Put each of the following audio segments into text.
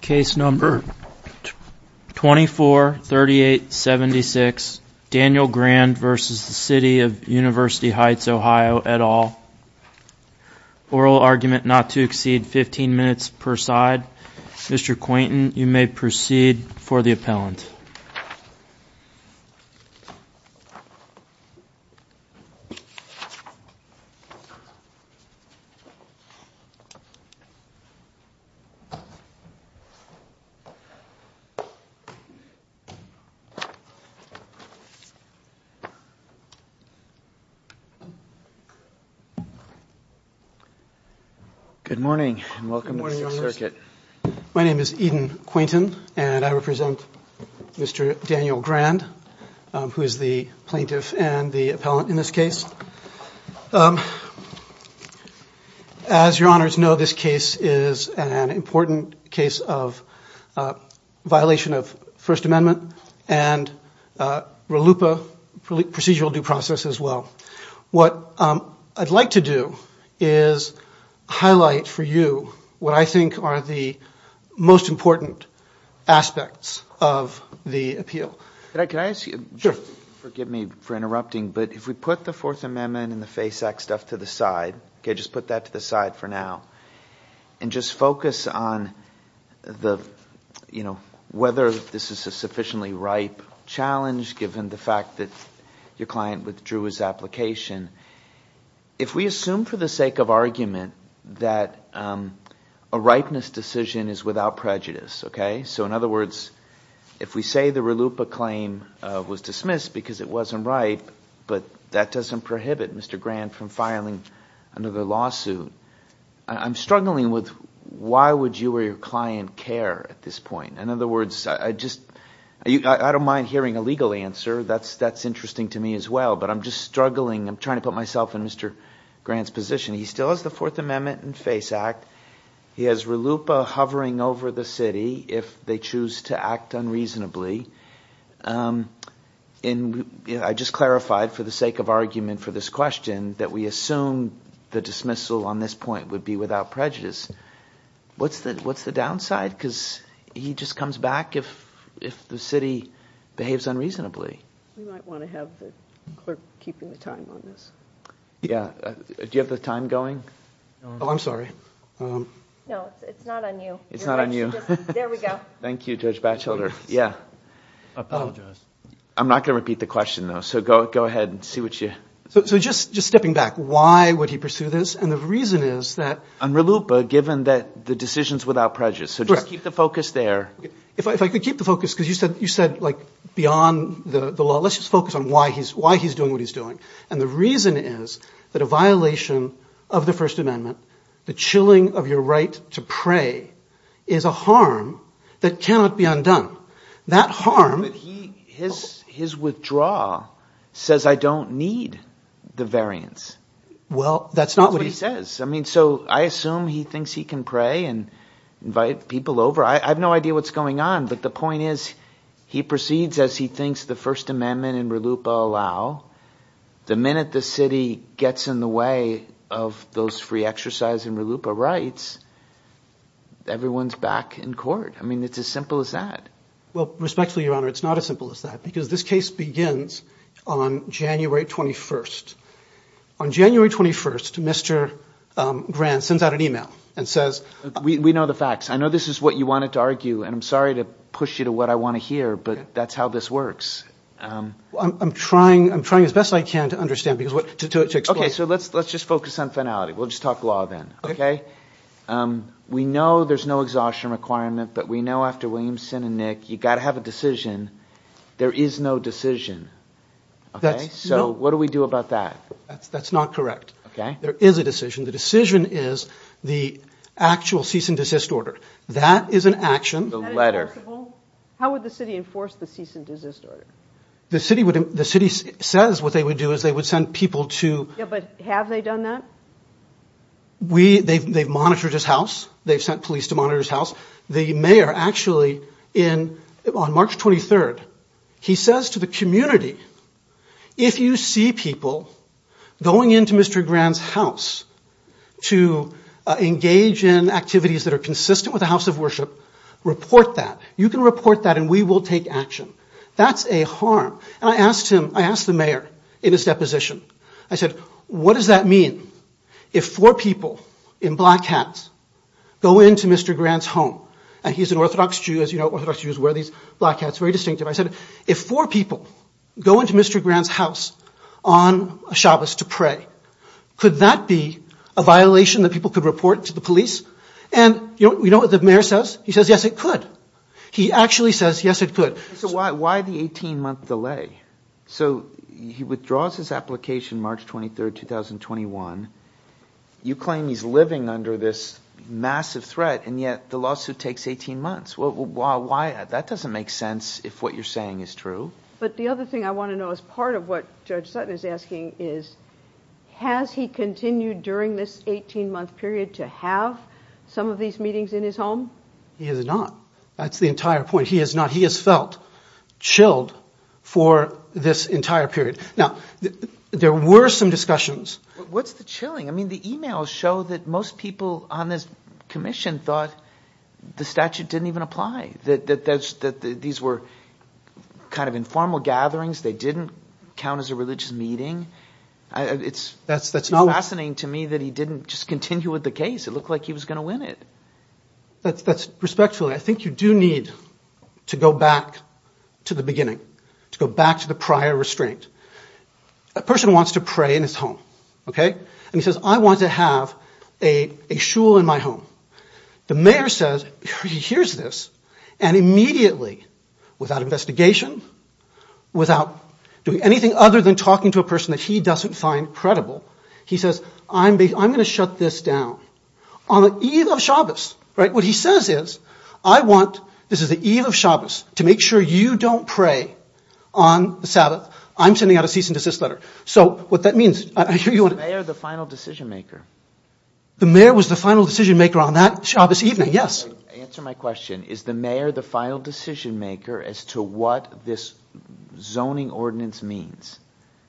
Case No. 243876 Daniel Grand v. City of University Heights OH Oral argument not to exceed 15 minutes per side Mr. Quainton you may proceed for the appellant Good morning and welcome to the circuit My name is Eden Quainton and I represent Mr. Daniel Grand who is the plaintiff and the appellant in this case As your honors know this case is an important case of violation of First Amendment and RELUPA procedural due process as well What I'd like to do is highlight for you what I think are the most important aspects of the appeal Could I ask you, forgive me for interrupting, but if we put the Fourth Amendment and the FACE Act stuff to the side Just put that to the side for now and just focus on whether this is a sufficiently ripe challenge given the fact that your client withdrew his application If we assume for the sake of argument that a ripeness decision is without prejudice So in other words, if we say the RELUPA claim was dismissed because it wasn't ripe But that doesn't prohibit Mr. Grand from filing another lawsuit I'm struggling with why would you or your client care at this point In other words, I don't mind hearing a legal answer, that's interesting to me as well But I'm just struggling, I'm trying to put myself in Mr. Grand's position He still has the Fourth Amendment and FACE Act, he has RELUPA hovering over the city if they choose to act unreasonably I just clarified for the sake of argument for this question that we assume the dismissal on this point would be without prejudice What's the downside? Because he just comes back if the city behaves unreasonably We might want to have the clerk keeping the time on this Do you have the time going? I'm sorry No, it's not on you It's not on you There we go Thank you Judge Batchelder I apologize I'm not going to repeat the question though, so go ahead and see what you So just stepping back, why would he pursue this? And the reason is that On RELUPA, given that the decision is without prejudice So just keep the focus there If I could keep the focus, because you said beyond the law, let's just focus on why he's doing what he's doing And the reason is that a violation of the First Amendment, the chilling of your right to pray is a harm that cannot be undone That harm But his withdrawal says I don't need the variance Well, that's not what he says I mean, so I assume he thinks he can pray and invite people over I have no idea what's going on But the point is, he proceeds as he thinks the First Amendment and RELUPA allow The minute the city gets in the way of those free exercise and RELUPA rights Everyone's back in court I mean, it's as simple as that Well, respectfully, Your Honor, it's not as simple as that because this case begins on January 21st On January 21st, Mr. Grant sends out an email and says We know the facts I know this is what you wanted to argue, and I'm sorry to push you to what I want to hear, but that's how this works I'm trying as best I can to understand Okay, so let's just focus on finality We'll just talk law then, okay? We know there's no exhaustion requirement, but we know after Williamson and Nick, you've got to have a decision There is no decision So what do we do about that? That's not correct There is a decision The decision is the actual cease and desist order That is an action Is that enforceable? How would the city enforce the cease and desist order? The city says what they would do is they would send people to Yeah, but have they done that? They've monitored his house They've sent police to monitor his house The mayor actually, on March 23rd, he says to the community If you see people going into Mr. Grant's house to engage in activities that are consistent with the house of worship Report that You can report that and we will take action That's a harm And I asked him, I asked the mayor in his deposition I said, what does that mean if four people in black hats go into Mr. Grant's home? And he's an orthodox Jew, as you know, orthodox Jews wear these black hats, very distinctive I said, if four people go into Mr. Grant's house on Shabbos to pray Could that be a violation that people could report to the police? And you know what the mayor says? He says, yes, it could He actually says, yes, it could So why the 18 month delay? So he withdraws his application March 23rd, 2021 You claim he's living under this massive threat and yet the lawsuit takes 18 months That doesn't make sense if what you're saying is true But the other thing I want to know is part of what Judge Sutton is asking is Has he continued during this 18 month period to have some of these meetings in his home? He has not That's the entire point He has not, he has felt chilled for this entire period Now, there were some discussions What's the chilling? I mean, the emails show that most people on this commission thought the statute didn't even apply That these were kind of informal gatherings They didn't count as a religious meeting It's fascinating to me that he didn't just continue with the case It looked like he was going to win it Respectfully, I think you do need to go back to the beginning To go back to the prior restraint A person wants to pray in his home And he says, I want to have a shul in my home The mayor says, he hears this And immediately, without investigation Without doing anything other than talking to a person that he doesn't find credible He says, I'm going to shut this down On the eve of Shabbos What he says is, I want, this is the eve of Shabbos To make sure you don't pray on the Sabbath I'm sending out a cease and desist letter So, what that means Is the mayor the final decision maker? The mayor was the final decision maker on that Shabbos evening, yes Answer my question Is the mayor the final decision maker as to what this zoning ordinance means?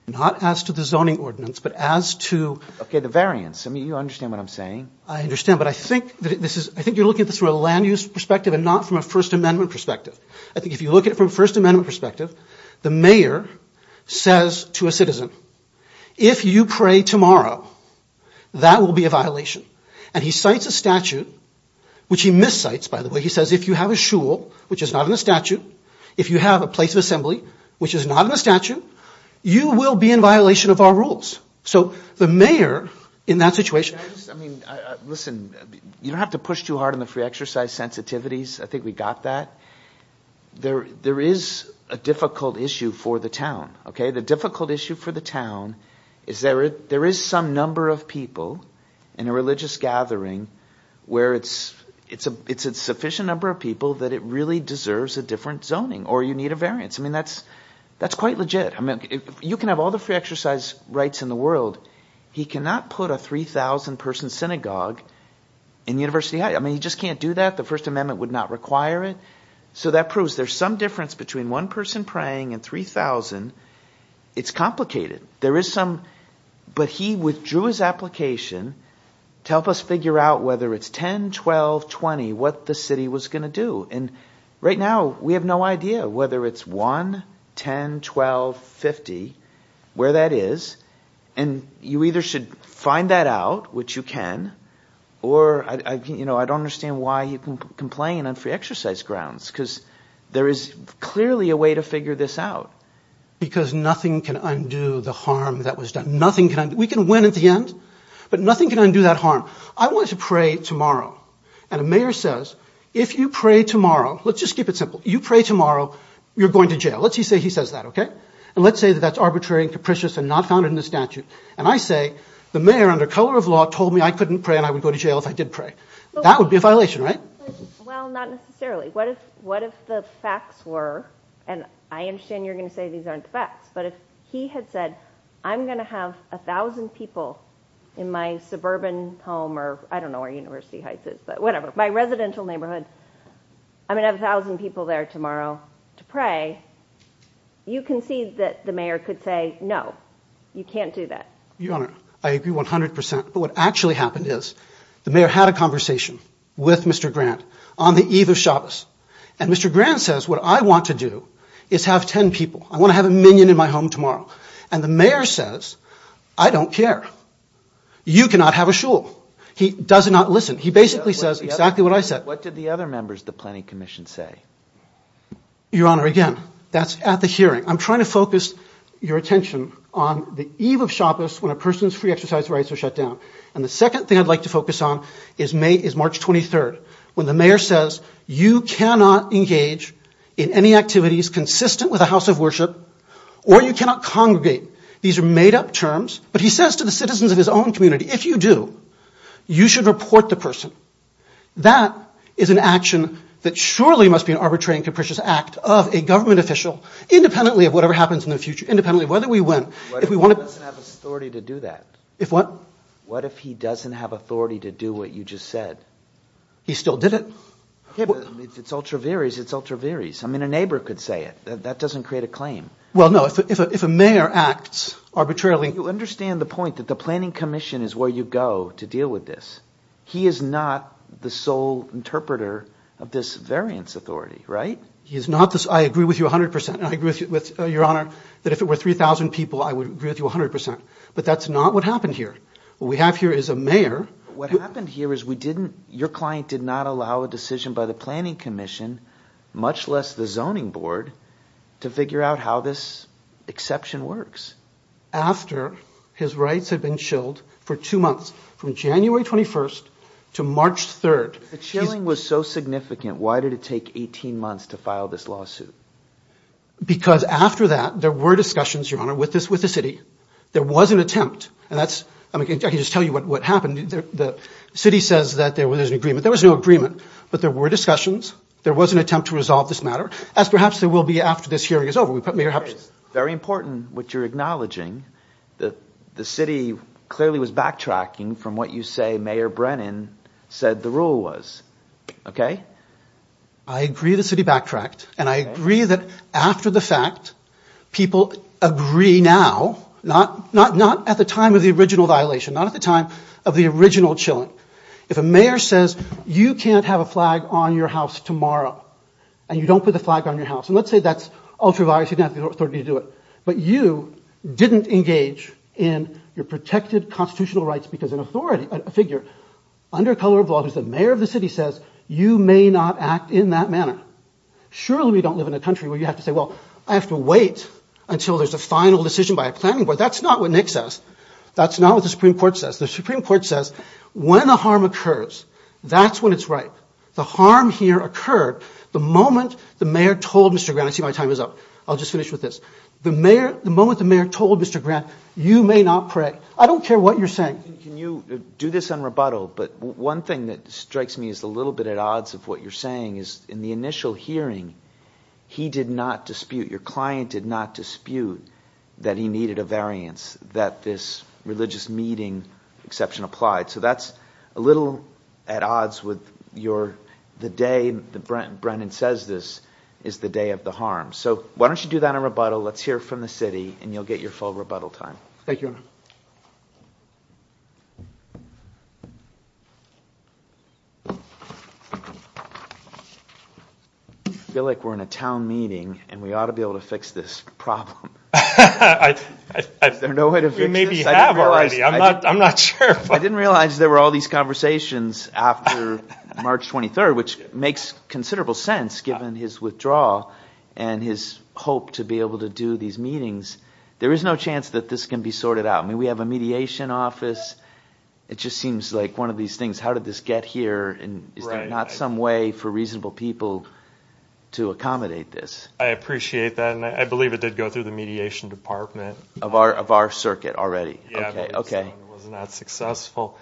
Not as to the zoning ordinance, but as to Okay, the variance I mean, you understand what I'm saying I understand But I think you're looking at this from a land use perspective And not from a First Amendment perspective I think if you look at it from a First Amendment perspective The mayor says to a citizen If you pray tomorrow That will be a violation And he cites a statute Which he miscites, by the way He says, if you have a shul, which is not in the statute If you have a place of assembly, which is not in the statute You will be in violation of our rules So, the mayor, in that situation I mean, listen You don't have to push too hard on the free exercise sensitivities I think we got that There is a difficult issue for the town The difficult issue for the town Is there is some number of people In a religious gathering Where it's a sufficient number of people That it really deserves a different zoning Or you need a variance I mean, that's quite legit You can have all the free exercise rights in the world He cannot put a 3,000 person synagogue In University Heights I mean, he just can't do that The First Amendment would not require it So, that proves there is some difference Between one person praying and 3,000 It's complicated There is some But he withdrew his application To help us figure out Whether it's 10, 12, 20 What the city was going to do And right now, we have no idea Whether it's 1, 10, 12, 50 Where that is And you either should find that out Which you can Or, you know, I don't understand Why he can complain on free exercise grounds Because there is clearly a way to figure this out Because nothing can undo the harm that was done Nothing can undo We can win at the end But nothing can undo that harm I want to pray tomorrow And a mayor says If you pray tomorrow Let's just keep it simple You pray tomorrow You're going to jail Let's say he says that, okay? And let's say that that's arbitrary and capricious And not found in the statute And I say The mayor, under color of law Told me I couldn't pray And I would go to jail if I did pray That would be a violation, right? Well, not necessarily What if the facts were And I understand you're going to say These aren't the facts But if he had said I'm going to have 1,000 people In my suburban home Or I don't know where University Heights is But whatever My residential neighborhood I'm going to have 1,000 people there tomorrow To pray You concede that the mayor could say No, you can't do that Your Honor, I agree 100% But what actually happened is The mayor had a conversation With Mr. Grant On the eve of Shabbos And Mr. Grant says What I want to do Is have 10 people I want to have a minion in my home tomorrow And the mayor says I don't care You cannot have a shul He does not listen He basically says exactly what I said What did the other members of the Planning Commission say? Your Honor, again That's at the hearing I'm trying to focus your attention On the eve of Shabbos When a person's free exercise rights are shut down And the second thing I'd like to focus on Is March 23rd When the mayor says You cannot engage In any activities Consistent with a house of worship Or you cannot congregate These are made up terms But he says to the citizens of his own community If you do You should report the person That is an action That surely must be an arbitrary and capricious act Of a government official Independently of whatever happens in the future Independently of whether we win What if he doesn't have authority to do that? If what? What if he doesn't have authority To do what you just said? He still did it If it's ultra viris, it's ultra viris I mean, a neighbor could say it That doesn't create a claim Well, no If a mayor acts arbitrarily You understand the point That the Planning Commission Is where you go to deal with this He is not the sole interpreter Of this variance authority, right? He is not I agree with you 100% And I agree with your Honor That if it were 3,000 people I would agree with you 100% But that's not what happened here What we have here is a mayor What happened here is we didn't Your client did not allow a decision By the Planning Commission Much less the Zoning Board To figure out how this exception works After his rights had been chilled For two months From January 21st to March 3rd The chilling was so significant Why did it take 18 months To file this lawsuit? Because after that There were discussions, Your Honor With the city There was an attempt And that's I mean, I can just tell you What happened The city says that There was an agreement There was no agreement But there were discussions There was an attempt To resolve this matter As perhaps there will be After this hearing is over We put Mayor Hapsen Very important What you're acknowledging The city clearly was backtracking From what you say Mayor Brennan said the rule was Okay? I agree the city backtracked And I agree that After the fact People agree now Not at the time Of the original violation Not at the time Of the original chilling If a mayor says You can't have a flag On your house tomorrow And you don't put the flag On your house And let's say that's Ultraviolet You don't have the authority To do it But you didn't engage In your protected Constitutional rights Because an authority A figure Under color of law Who's the mayor of the city says You may not act in that manner Surely we don't live In a country Where you have to say Well I have to wait Until there's a final decision By a planning board That's not what Nick says That's not what The Supreme Court says The Supreme Court says When a harm occurs That's when it's right The harm here occurred The moment the mayor told Mr. Grant I see my time is up I'll just finish with this The moment the mayor told Mr. Grant You may not pray I don't care what you're saying Can you do this on rebuttal But one thing that strikes me Is a little bit at odds Of what you're saying Is in the initial hearing He did not dispute Your client did not dispute That he needed a variance That this religious meeting Exception applied So that's a little at odds With your The day that Brennan says this Is the day of the harm So why don't you do that on rebuttal Let's hear from the city And you'll get your full rebuttal time Thank you, Your Honor I feel like we're in a town meeting And we ought to be able to fix this problem Is there no way to fix this? We maybe have already I'm not sure I didn't realize there were All these conversations After March 23rd Which makes considerable sense Given his withdrawal And his hope to be able To do these meetings There is no chance That this can be sorted out I mean we have a mediation office It just seems like one of these things How did this get here Is there not some way For reasonable people To accommodate this? I appreciate that And I believe it did go through The mediation department Of our circuit already Yeah, but it was not successful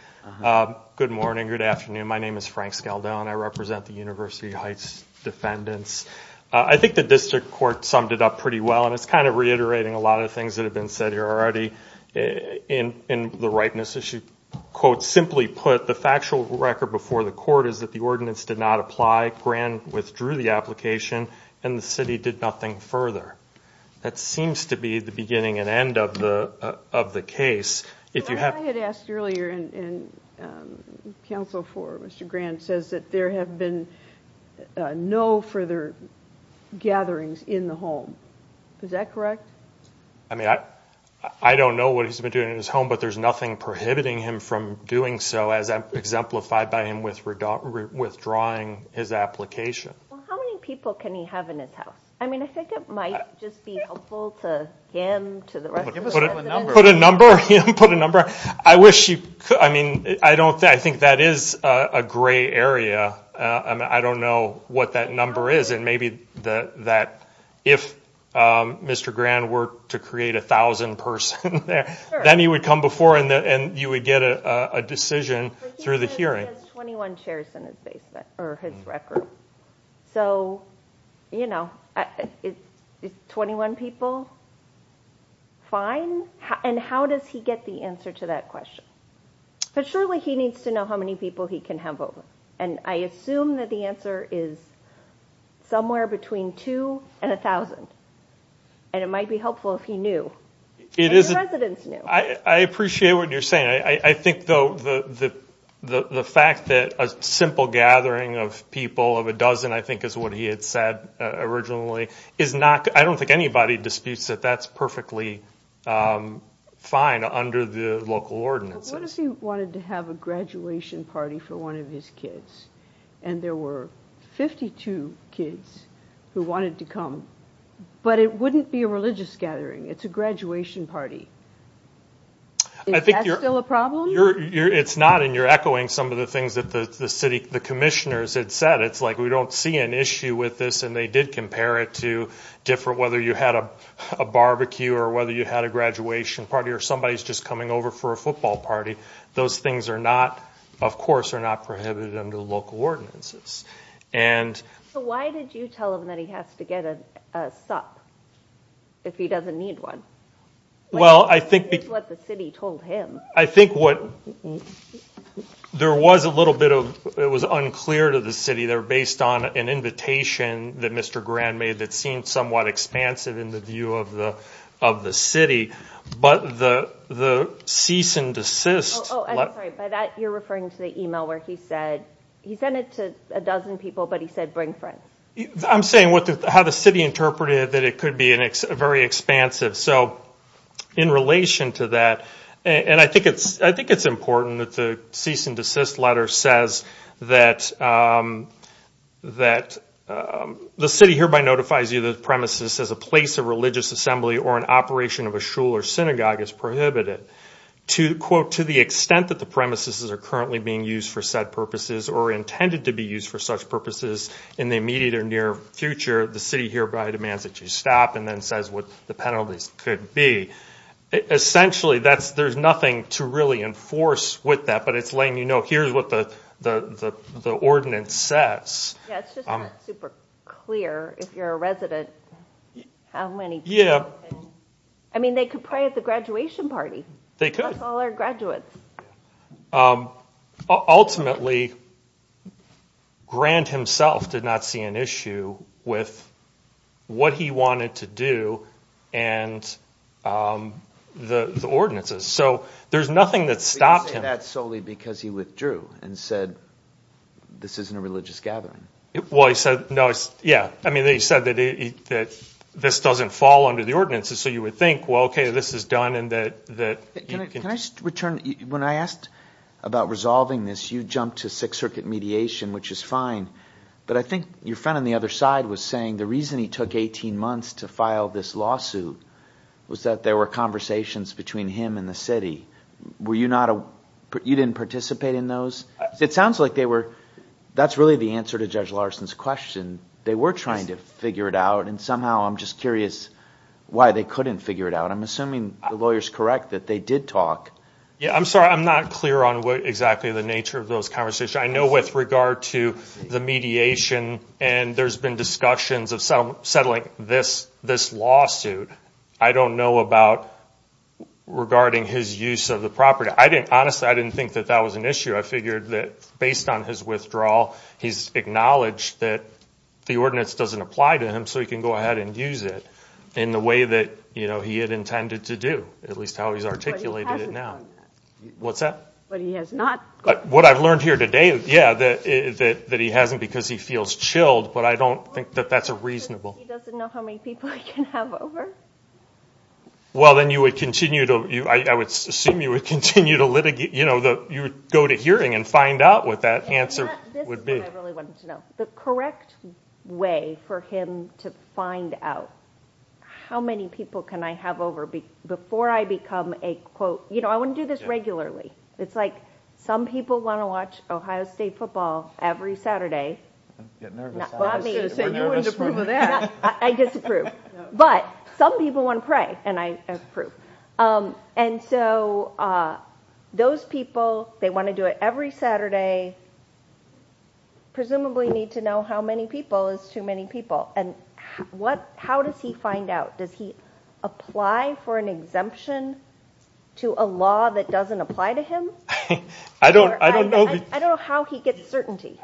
Good morning, good afternoon My name is Frank Scaldell And I represent the University Heights defendants I think the district court Summed it up pretty well And it's kind of reiterating A lot of things that have been said here already In the ripeness issue Quote, simply put That the factual record Before the court Is that the ordinance Did not apply Grand withdrew the application And the city did nothing further That seems to be the beginning And end of the case If you have I had asked earlier And counsel for Mr. Grand Says that there have been No further gatherings In the home Is that correct? I mean I don't know What he's been doing in his home But there's nothing Prohibiting him from doing so As exemplified by him Withdrawing his application How many people Can he have in his house? I mean I think it might Just be helpful to him To the rest of the defendants Put a number Put a number I wish you I mean I don't think I think that is A gray area I don't know What that number is And maybe that If Mr. Grand were To create a thousand person Then he would come before And you would get a decision Through the hearing He has 21 chairs In his basement Or his rec room So You know 21 people Fine And how does he get The answer to that question? But surely he needs to know How many people He can have over And I assume That the answer is Somewhere between Two and a thousand And it might be helpful If he knew If the residents knew I appreciate what you're saying I think though The fact that A simple gathering Of people Of a dozen I think Is what he had said Originally Is not I don't think anybody Disputes that that's Perfectly Fine under the Local ordinances But what if he wanted to have A graduation party For one of his kids And there were 52 kids Who wanted to come But it wouldn't be A religious gathering It's a graduation party Is that still a problem? It's not And you're echoing Some of the things That the city The commissioners Had said It's like we don't see An issue with this And they did compare it To different Whether you had A barbecue Or whether you had A graduation party Or somebody's just coming Over for a football party Those things are not Of course are not Prohibited under The local ordinances So why did you tell him That he has to get A sup If he doesn't need one Well I think It's what the city Told him I think what There was a little bit of It was unclear To the city They were based on An invitation That Mr. Grand made That seemed somewhat Expansive in the view Of the city But the Cease and desist Oh I'm sorry By that you're referring To the email Where he said He sent it to A dozen people But he said bring friends I'm saying How the city interpreted That it could be A very expansive So In relation to that And I think it's I think it's important That the Cease and desist Letter says That That The city hereby Notifies you The premises As a place of Religious assembly Or an operation Of a shul or synagogue Is prohibited To quote To the extent That the premises Are currently being used For said purposes Or intended to be used For such purposes In the immediate Or near future The city hereby Demands that you stop And then says What the penalties Could be Essentially That's There's nothing To really enforce With that But it's letting you know Here's what the The ordinance says Yeah it's just not Super clear If you're a resident How many people Yeah I mean they could pray At the graduation party They could Plus all our graduates Ultimately Grant himself Did not see an issue With What he wanted to do And The ordinances So there's nothing That stopped him But you say that solely Because he withdrew And said This isn't a religious gathering Well he said No it's Yeah I mean they said That he That this doesn't fall Under the ordinances So you would think Well okay this is done And that Can I just return When I asked About resolving this You jumped to Sixth circuit mediation Which is fine But I think Your friend on the other side Was saying The reason he took Eighteen months To file this lawsuit Was that there were Conversations Between him and the city Were you not You didn't participate in those It sounds like they were That's really the answer To Judge Larson's question They were trying To figure it out And somehow I'm just curious Why they couldn't Figure it out I'm assuming The lawyer's correct That they did talk Yeah I'm sorry I'm not clear on What exactly the nature Of those conversations I know with regard to The mediation And there's been discussions Of settling This issue I don't know about Regarding his use Of the property I didn't honestly I didn't think That that was an issue I figured that Based on his withdrawal He's acknowledged That the ordinance Doesn't apply to him So he can go ahead And use it In the way that You know he had Intended to do At least how he's Articulated it now But he hasn't done that What's that But he has not But what I've learned Here today Yeah that That he hasn't Because he feels chilled But I don't think That that's a reasonable He doesn't know How many people He can have over Well then you would Continue to I would assume You would continue To litigate You know you would Go to hearing And find out What that answer Would be This is what I Really wanted to know The correct way For him to find out How many people Can I have over Before I become A quote You know I wouldn't Do this regularly It's like Some people Want to watch Ohio State football Every Saturday I'm getting nervous I was going to say You wouldn't approve of that I disapprove But some people Want to pray And I approve And so Those people They want to do it Every Saturday Presumably need to know How many people Is too many people And what How does he find out Does he apply For an exemption To a law That doesn't apply to him I don't know I don't know how He gets certainty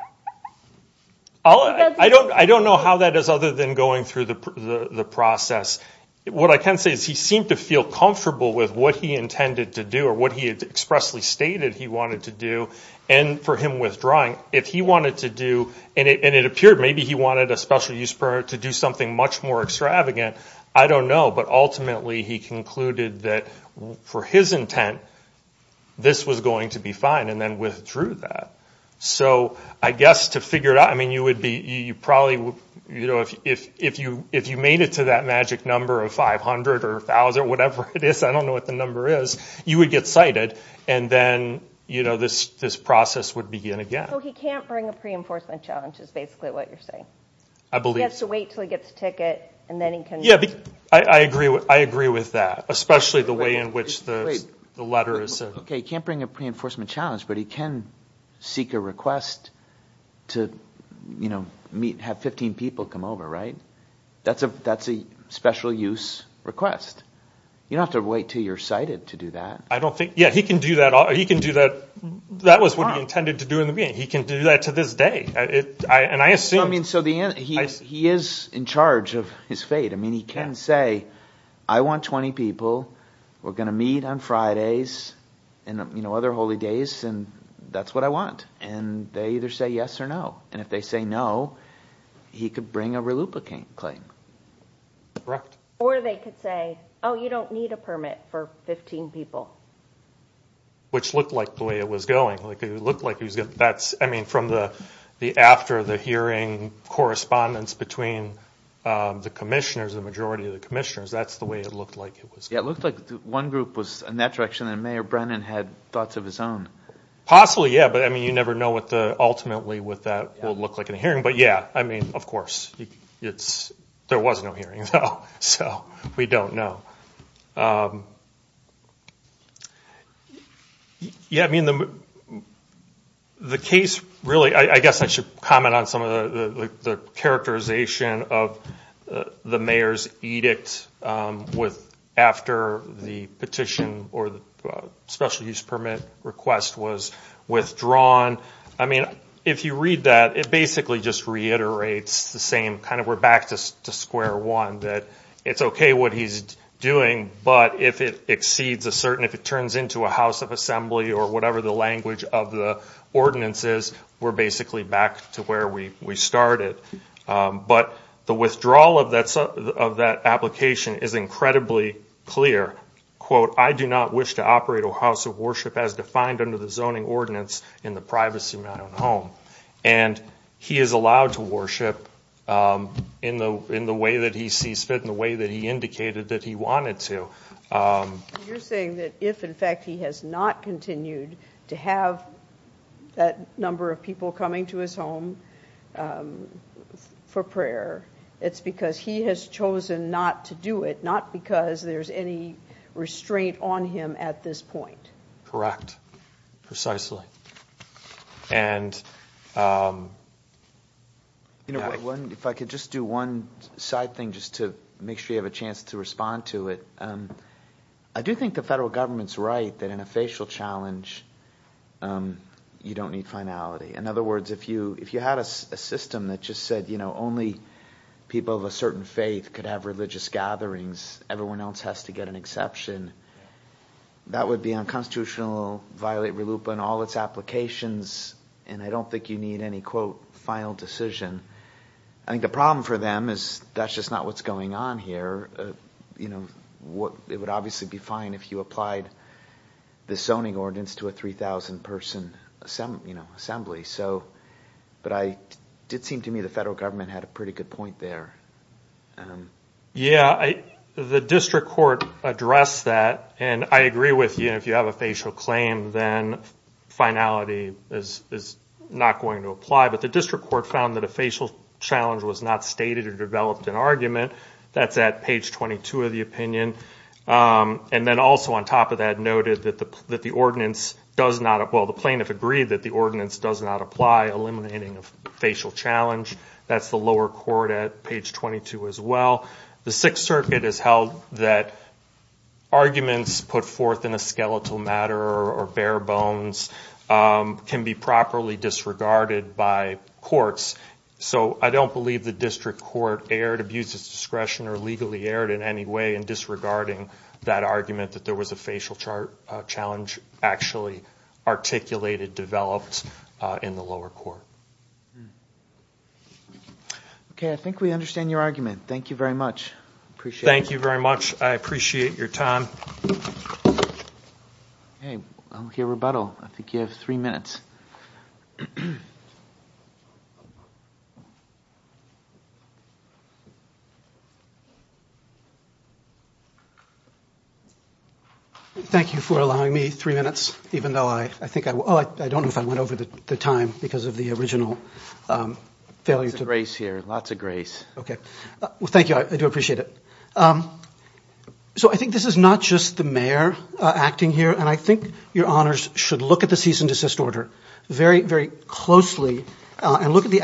I'll He doesn't I don't know How that is Other than going Through the process What I can say Is he seemed to feel Comfortable with What he intended To do Or what he Expressly stated He wanted to do And for him Withdrawing If he wanted to do And it appeared Maybe he wanted A special use permit To do something Much more extravagant I don't know But ultimately He concluded That for his intent This was going To be fine And then withdrew that So I guess To figure it out I mean you would be You probably You know If you If you made it To that magic number Of five hundred Or a thousand Whatever it is I don't know what the number is You would get cited And then You know This process Would begin again So he can't bring A pre-enforcement challenge Is basically what you're saying I believe He has to wait Until he gets a ticket And then he can Yeah I agree I agree with that Especially the way In which the The letter is Okay he can't bring A pre-enforcement challenge But he can Seek a request To You know Meet Have fifteen people Come over right That's a That's a special use Request You don't have to wait Until you're cited To do that I don't think Yeah he can do that He can do that That was what he intended To do in the beginning He can do that To this day And I assume I mean so the He is in charge Of his fate I mean he can say I want twenty people We're going to meet On Fridays And you know Other holy days And that's what I want And they either say Yes or no And if they say no He could bring A reluplicate claim Correct Or they could say Oh you don't need a permit For fifteen people Which looked like The way it was going Like it looked like He was going That's I mean from the The after the hearing Correspondence between The commissioners The majority of the commissioners That's the way It looked like It was Yeah it looked like One group was In that direction And Mayor Brennan Had thoughts of His own Possibly yeah But I mean You never know What the Ultimately with that Will look like In a hearing But yeah I mean Of course It's There was no hearing So we don't know Yeah I mean The case really I guess I should Comment on some Of the Characterization Of the Mayor's Edict With After the Petition Or the Special use Permit The Petition request Was withdrawn I mean If you read that It basically Just reiterates The same Kind of We're back to Square one That It's okay What he's Doing But if it Exceeds a certain If it turns into A house of Assembly Or whatever The language Of the Ordinances We're basically Back to where We started But The withdrawal Of that Application Is incredibly Clear Quote I do not wish To operate A house of As defined Under the Zoning ordinance In the Privacy of my Own home And he is Allowed to In the Way that he Sees fit In the way That he Indicated That he Wanted to You're saying That if In fact He has not He has Chosen not To do it Not because There's any Restraint on Him at this Point Correct Precisely And You know One if I Could just do One side Thing just to Make sure you Have a chance To respond To it I do think The federal Government's Right that in A facial Challenge You don't Need finality In other You People Of a Faith Could have Religious Gatherings Everyone Else has To get An exception That would Be unconstitutional Violate All its Applications And I Don't think You need Any quote Final Decision I think The problem For them Is that District Court Addressed That And I Agree With you If you Have a Facial Claim Then Finality Is not Going to Apply But the District Court Found That a Facial Challenge Was not Stated Or developed An argument That's At page 22 Of the Opinion And also On top Of that The Ordinance Does not Apply Eliminating Facial Challenge That's The lower Court At page 22 As well The Sixth Has held That Put forth In a Discretion Or Legally Disregarding That Argument That There Was A Facial Challenge Actually Articulated Developed In the Lower Court I think We Understand Your Argument Thank You Very I Appreciate Your Time I Think You Have Three Minutes Thank You For Allowing Me Three Minutes Even Though I Think I Don't Know If I Over The Time Because Of The Original Objective Think Is Not Just The Mayor Acting Here I Think Your Should Look At The Order Very Closely And Look The Mayor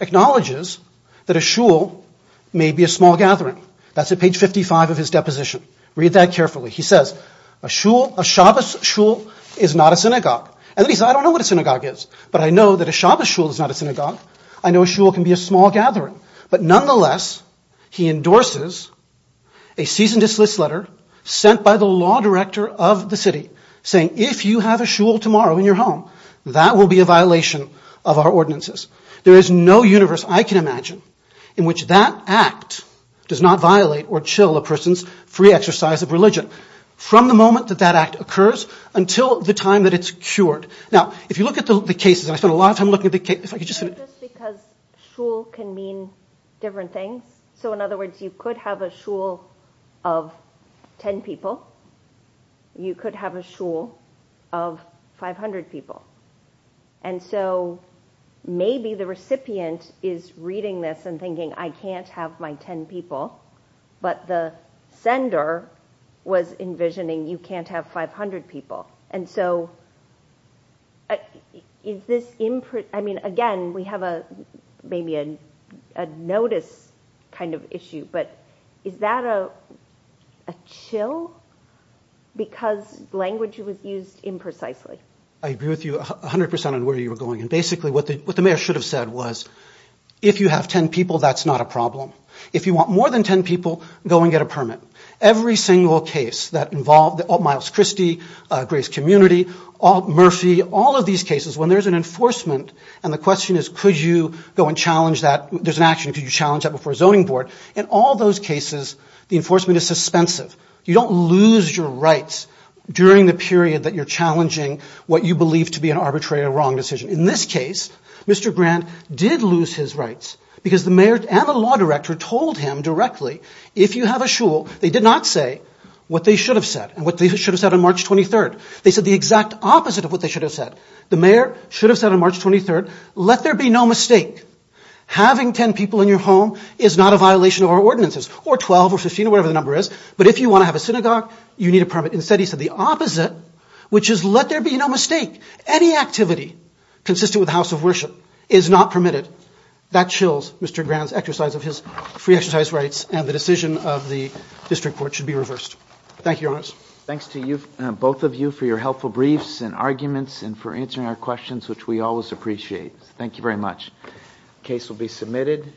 Acknowledges That A Shul May Be A Gathering Read That Carefully He Says A Shul Is Not A I Know It Can Be A Gathering But Nonetheless He Endorses A Season Disliss Letter Sent By The Law Director Of The City Saying If You Have A Tomorrow In Your Home That Will Be A Violation Of Our Ordinances There Is No Universe I Can Imagine In Which That Act Does Not Violate Or Chill A Person's Free Exercise Of From The Law Saying If You A Tomorrow In Your Will Violation I Can Imagine In Which Law Of If You Have A In Your Home That Will Be A Violation Of Our Ordinances There Is No Universe I Which That Act Does Not Violate Or Chill A Person's Free Exercise Of Our Ordinances There Is Universe I Can Imagine In Which Law